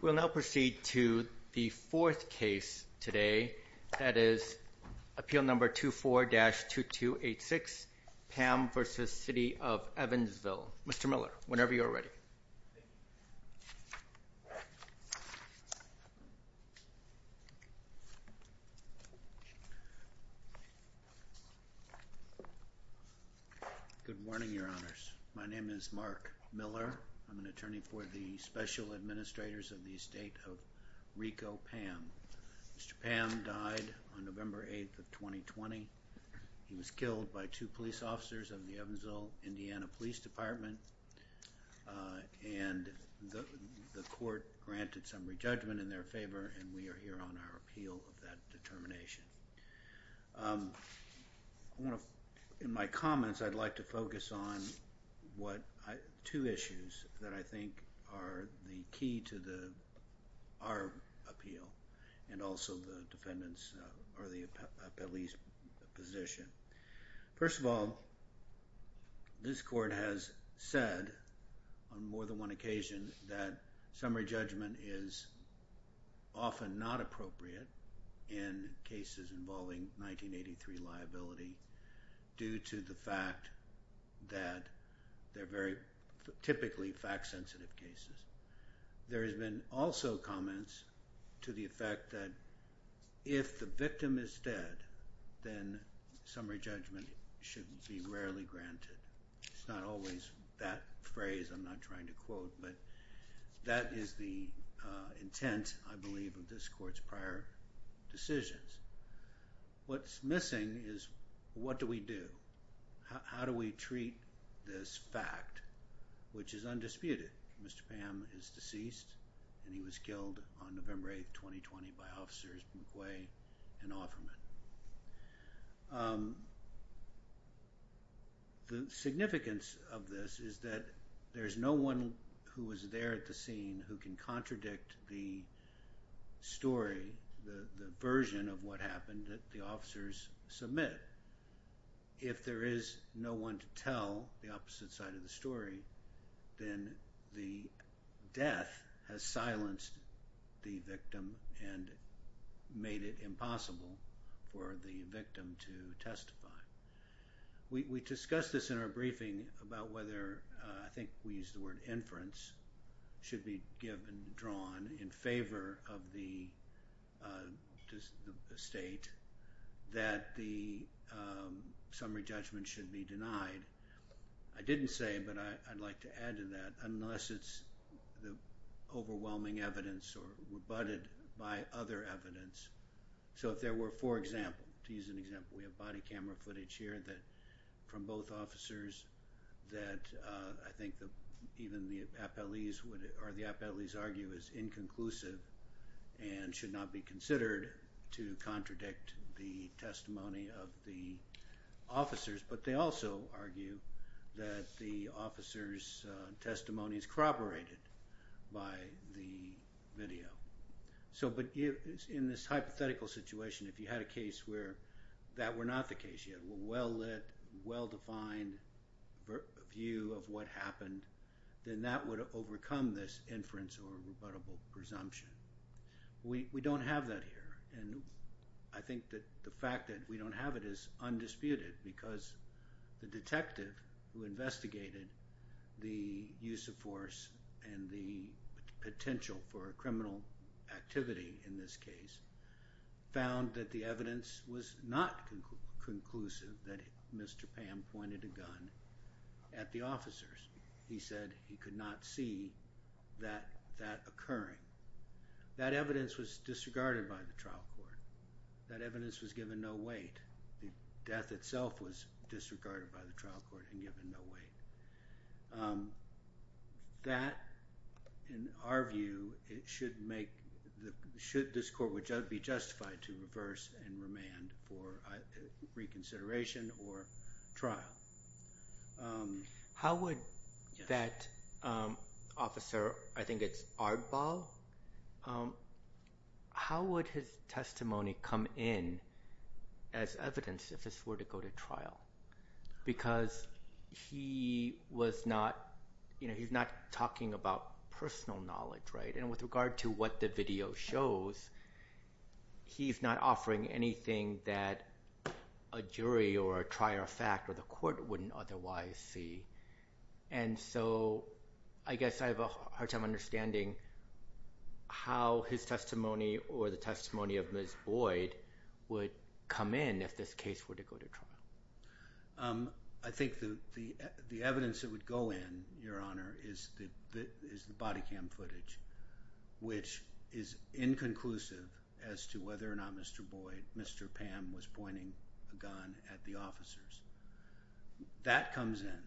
We will now proceed to the fourth case today that is appeal number 24-2286 Pam v. City of Evansville. Mr. Miller, whenever you're ready. Good morning, Your Honors. My name is Mark Miller. I'm an attorney for the Special Administrators of the Estate of Rico Pam. Mr. Pam died on November 8th of 2020. He was killed by two police officers of the Evansville Indiana Police Department and the court granted some re-judgment in their favor and we are here on our appeal of that determination. In my comments I'd like to focus on two issues that I think are the key to our appeal and also the defendant's or the appellee's position. First of all, this court has said on more than one occasion that summary judgment is often not appropriate in cases involving 1983 liability due to the fact that they're very typically fact sensitive cases. There has been also comments to the effect that if the victim is dead then summary judgment should be rarely granted. It's not always that phrase I'm not trying to quote but that is the intent I believe of this court's prior decisions. What's missing is what do we do? How do we treat this fact which is undisputed? Mr. Pam is deceased and he was killed on November 8th 2020 by officers McQuay and Offerman. The significance of this is that there's no one who was there at the scene who can contradict the story, the version of what happened that the officers submit. If there is no one to tell the opposite side of the story then the death has silenced the victim and made it impossible for the victim to testify. We discussed this in our briefing about whether I think we use the word inference should be given drawn in favor of the state that the summary judgment should be denied. I didn't say but I'd like to add to that unless it's the overwhelming evidence or rebutted by other evidence. So if there were for example to use an example we have body camera footage here that from both officers that I think that even the appellees would argue is inconclusive and should not be considered to contradict the testimony of the officers but they also argue that the officers testimonies corroborated by the video. So but in this hypothetical situation if you had a case where that were not the case yet well-lit well-defined view of what happened then that would overcome this inference or presumption. We don't have that here and I think that the fact that we don't have it is undisputed because the detective who investigated the use of force and the potential for a criminal activity in this case found that the evidence was not conclusive that Mr. Pam pointed a gun at the officers. He said he could not see that occurring. That evidence was disregarded by the trial court. That evidence was given no weight. The death itself was disregarded by the trial court and given no weight. That in our view it should make the should this court which be justified to reverse and remand for reconsideration or trial. How would that officer I think it's Ardball. How would his testimony come in as evidence if this were to go to trial because he was not you know he's not talking about personal knowledge right and with regard to what the video shows he's not offering anything that a jury or a trier fact or the court wouldn't otherwise see and so I guess I have a hard time understanding how his testimony or the testimony of Ms. Boyd would come in if this case were to go to trial. I think the the evidence that would go in your honor is the body cam footage which is inconclusive as to whether or not Mr. Boyd Mr. Pam was pointing a gun at the officers. That comes in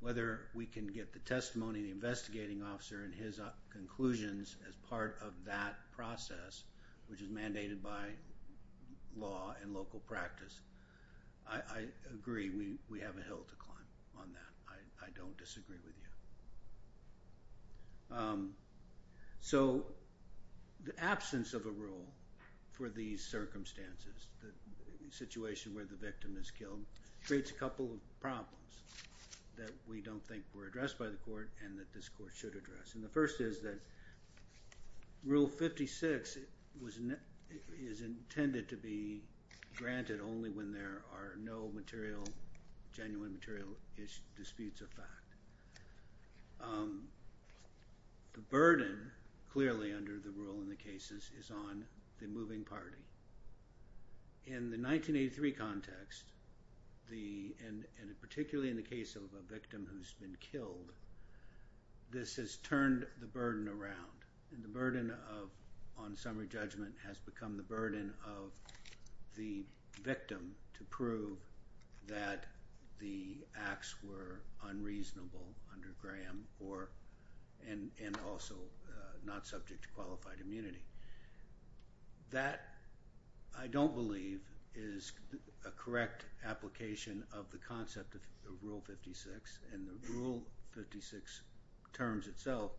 whether we can get the testimony the investigating officer and his conclusions as part of that process which is mandated by law and local practice. I disagree with you. So the absence of a rule for these circumstances the situation where the victim is killed creates a couple of problems that we don't think were addressed by the court and that this court should address and the first is that rule 56 was intended to be granted only when there are no material genuine material disputes of fact. The burden clearly under the rule in the cases is on the moving party. In the 1983 context the and particularly in the case of a victim who's been killed this has turned the burden around and the burden of on summary judgment has become the burden of the victim to prove that the acts were unreasonable under Graham or and and also not subject to qualified immunity. That I don't believe is a correct application of the concept of rule 56 and the rule 56 terms itself.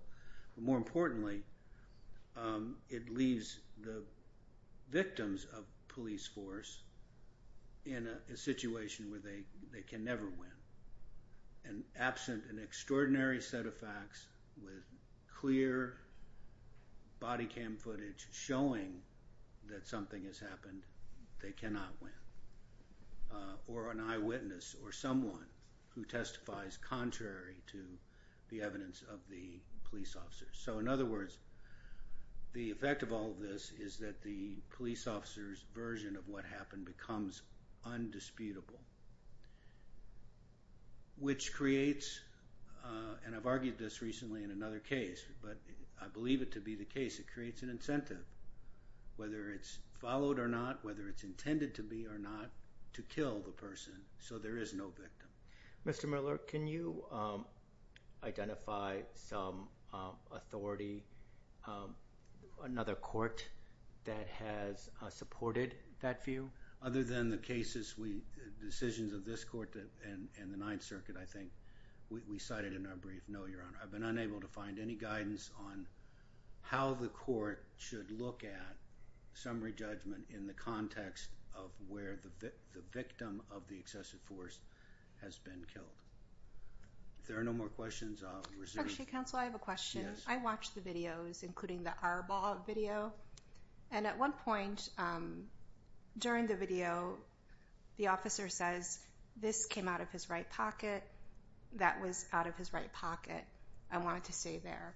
More importantly it leaves the victims of police force in a situation where they they can never win and absent an extraordinary set of facts with clear body footage showing that something has happened. They cannot win or an eyewitness or someone who testifies contrary to the evidence of the police officers. So in other words the effect of all this is that the police officers version of what happened becomes undisputable which creates and I've argued this recently in another case but I believe it to be the case it creates an incentive whether it's followed or not whether it's intended to be or not to kill the person so there is no victim. Mr. Miller can you identify some authority another court that has supported that view? Other than the cases we decisions of this court and the Ninth Circuit I think we cited in our brief no your honor I've been unable to find any guidance on how the court should look at summary judgment in the context of where the victim of the excessive force has been killed. If there are no more questions I'll reserve. Actually counsel I have a question. I watched the videos including the Arbol video and at one point during the video the officer says this came out of his right pocket that was out of his right pocket I wanted to stay there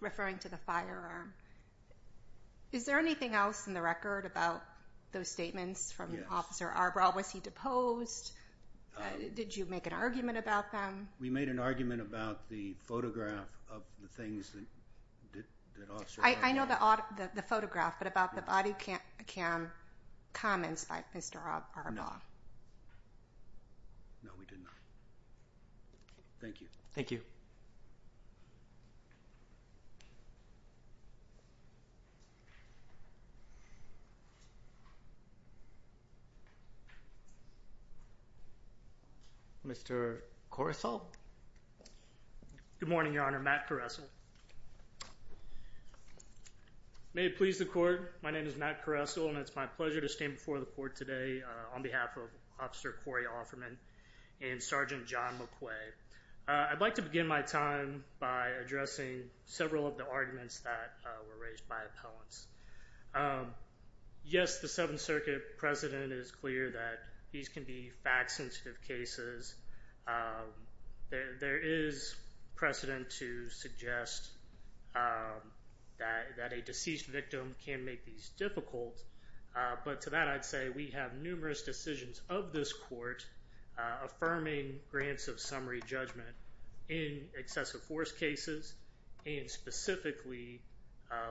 referring to the firearm. Is there anything else in the record about those statements from Officer Arbol? Was he deposed? Did you make an argument about them? We made an argument about the photograph of the things. I know the photograph but about the body cam comments by Mr. Arbol. No we did not. Thank you. Thank you. Mr. Corisol. Good morning your honor Matt Corisol. May it please the court my name is Matt Corisol and it's my pleasure to stand before the court today on behalf of Officer Corey Offerman and Sergeant John McQuay. I'd like to begin my time by addressing several of the arguments that were raised by appellants. Yes the Seventh Circuit precedent is clear that these can be fact sensitive cases. There is precedent to suggest that a deceased victim can make these difficult but to that I'd say we have numerous decisions of this court affirming grants of summary judgment in excessive force cases and specifically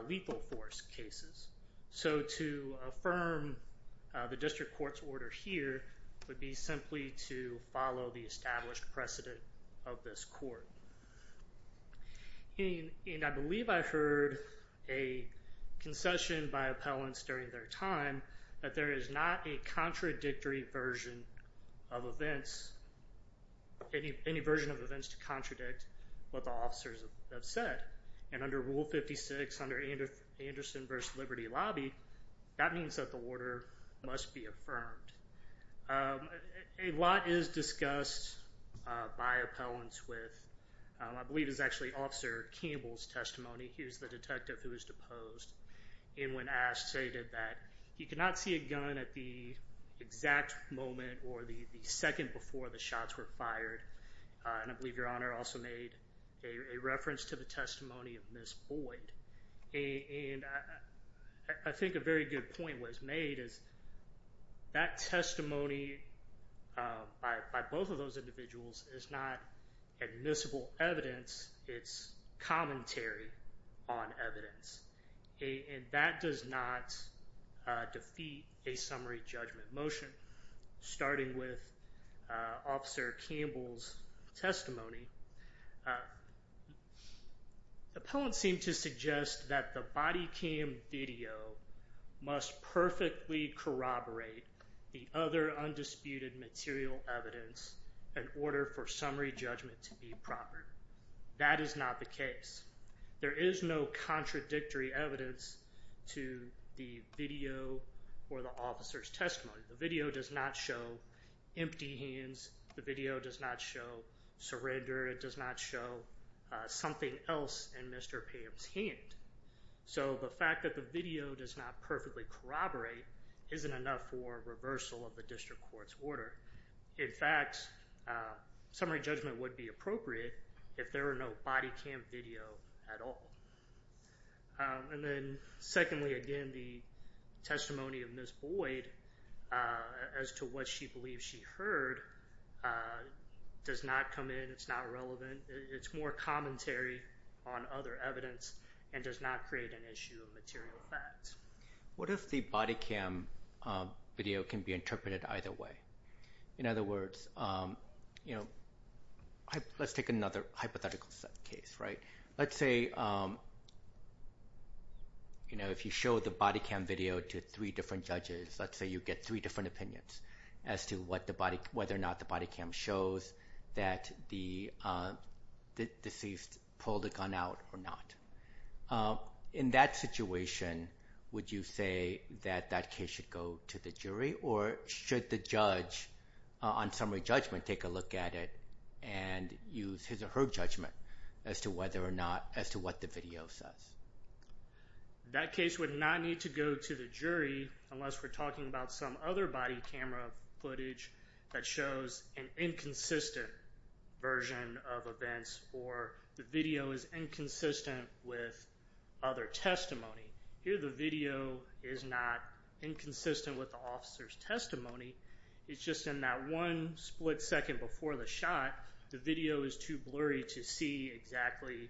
lethal force cases. So to affirm the district court's order here would be simply to follow the established precedent of this court. And I believe I heard a concession by appellants during their time that there is not a contradictory version of events, any version of events to contradict what the officers have said. And under Rule 56 under Anderson v. Liberty Lobby that means that the order must be affirmed. A lot is discussed by appellants with I believe it's actually Officer Campbell's testimony. He was the detective who was deposed and when asked stated that he could not see a gun at the exact moment or the second before the shots were fired and I believe your honor also made a reference to the testimony of Ms. Boyd. And I think a very good point was made is that testimony by both of those individuals is not admissible evidence it's commentary on evidence. And that does not defeat a summary judgment motion starting with Officer Campbell's testimony. Appellants seem to suggest that the body cam video must perfectly corroborate the other undisputed material evidence in order for summary judgment to be proper. That is not the case. There is no contradictory evidence to the video or the officer's testimony. The video does not show empty hands. The video does not show surrender. It does not show something else in Mr. Pam's hand. So the fact that the video does not perfectly corroborate isn't enough for reversal of the district court's order. In fact, summary judgment would be appropriate if there were no body cam video at all. And then secondly, again, the testimony of Ms. Boyd as to what she believes she heard does not come in. It's not relevant. It's more commentary on other evidence and does not create an issue of material facts. What if the body cam video can be interpreted either way? In other words, let's take another hypothetical case. Let's say if you show the body cam video to three different judges, let's say you get three different opinions as to whether or not the body cam shows that the deceased pulled a gun out or not. In that situation, would you say that that case should go to the jury or should the judge on summary judgment take a look at it and use his or her judgment as to whether or not, as to what the video says? That case would not need to go to the jury unless we're talking about some other body camera footage that shows an inconsistent version of events or the video is inconsistent with other testimony. Here the video is not inconsistent with the officer's testimony. It's just in that one split second before the shot, the video is too blurry to see exactly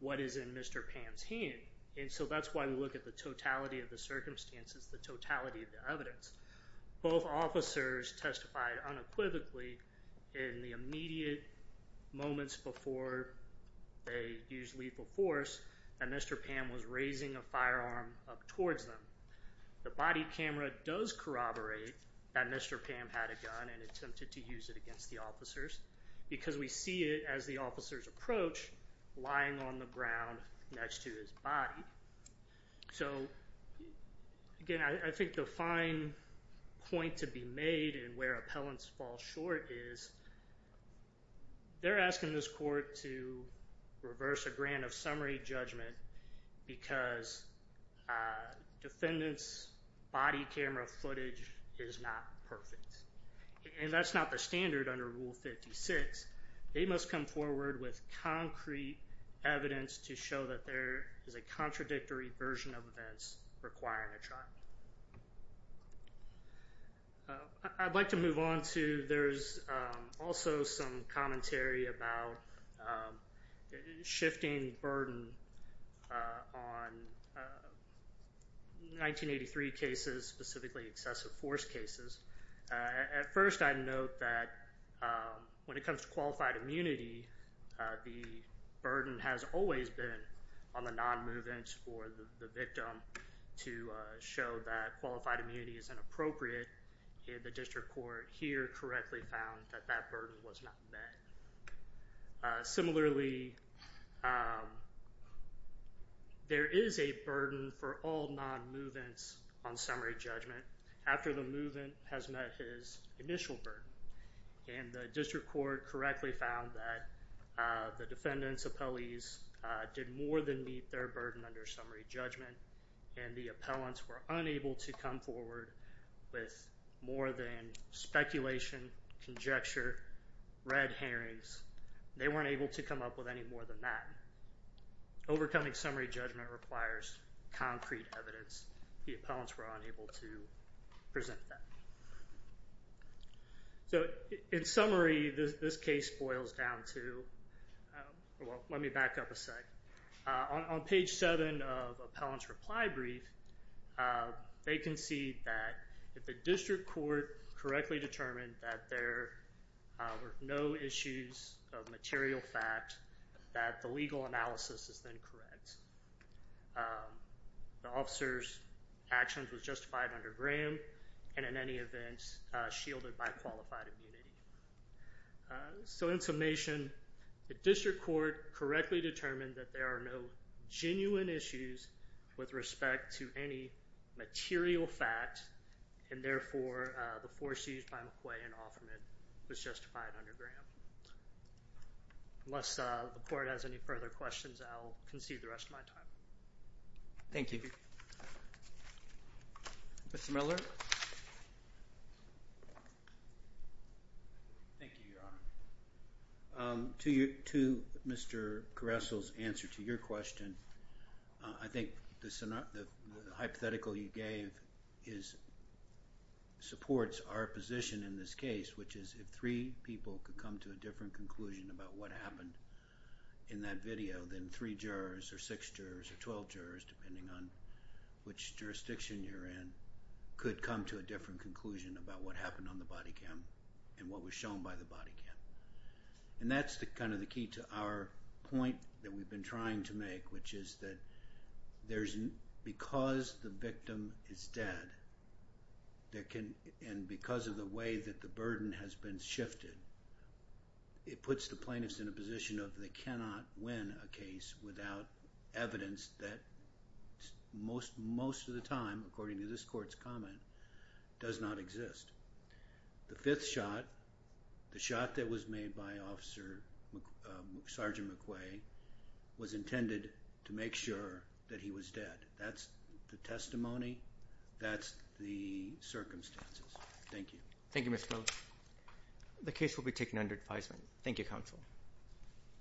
what is in Mr. Pam's hand. And so that's why we look at the totality of the circumstances, the totality of the evidence. Both officers testified unequivocally in the immediate moments before they used lethal force that Mr. Pam was raising a firearm up towards them. The body camera does corroborate that Mr. Pam had a gun and attempted to use it against the officers because we see it as the officer's approach lying on the ground next to his body. So again, I think the fine point to be made in where appellants fall short is they're asking this court to reverse a grant of summary judgment because defendant's body camera footage is not perfect. And that's not the standard under Rule 56. They must come forward with concrete evidence to show that there is a contradictory version of events requiring a trial. I'd like to move on to, there's also some commentary about shifting burden on 1983 cases, specifically excessive force cases. At first I'd note that when it comes to qualified immunity, the burden has always been on the non-movements for the victim to show that qualified immunity is inappropriate. The district court here correctly found that that burden was not met. Similarly, there is a burden for all non-movements on summary judgment after the movement has met his initial burden. And the district court correctly found that the defendant's appellees did more than meet their burden under summary judgment. And the appellants were unable to come forward with more than speculation, conjecture, red herrings. They weren't able to come up with any more than that. Overcoming summary judgment requires concrete evidence. The appellants were unable to present that. So in summary, this case boils down to, well, let me back up a sec. On page 7 of appellant's reply brief, they concede that if the district court correctly determined that there were no issues of material fact, that the legal analysis is then correct. The officer's actions was justified under Graham, and in any event, shielded by qualified immunity. So in summation, the district court correctly determined that there are no genuine issues with respect to any material fact. And therefore, the force used by McQuay and Offerman was justified under Graham. Unless the court has any further questions, I'll concede the rest of my time. Thank you. Mr. Miller? Thank you, Your Honor. To Mr. Caruso's answer to your question, I think the hypothetical you gave supports our position in this case, which is if three people could come to a different conclusion about what happened in that video, then three jurors or six jurors or 12 jurors, depending on which jurisdiction you're in, could come to a different conclusion about what happened on the body cam and what was shown by the body cam. And that's kind of the key to our point that we've been trying to make, which is that because the victim is dead and because of the way that the burden has been shifted, it puts the plaintiffs in a position of they cannot win a case without evidence that most of the time, according to this court's comment, does not exist. The fifth shot, the shot that was made by Officer Sergeant McQuay, was intended to make sure that he was dead. That's the testimony. That's the circumstances. Thank you. Thank you, Mr. Miller. The case will be taken under advisement. Thank you, counsel.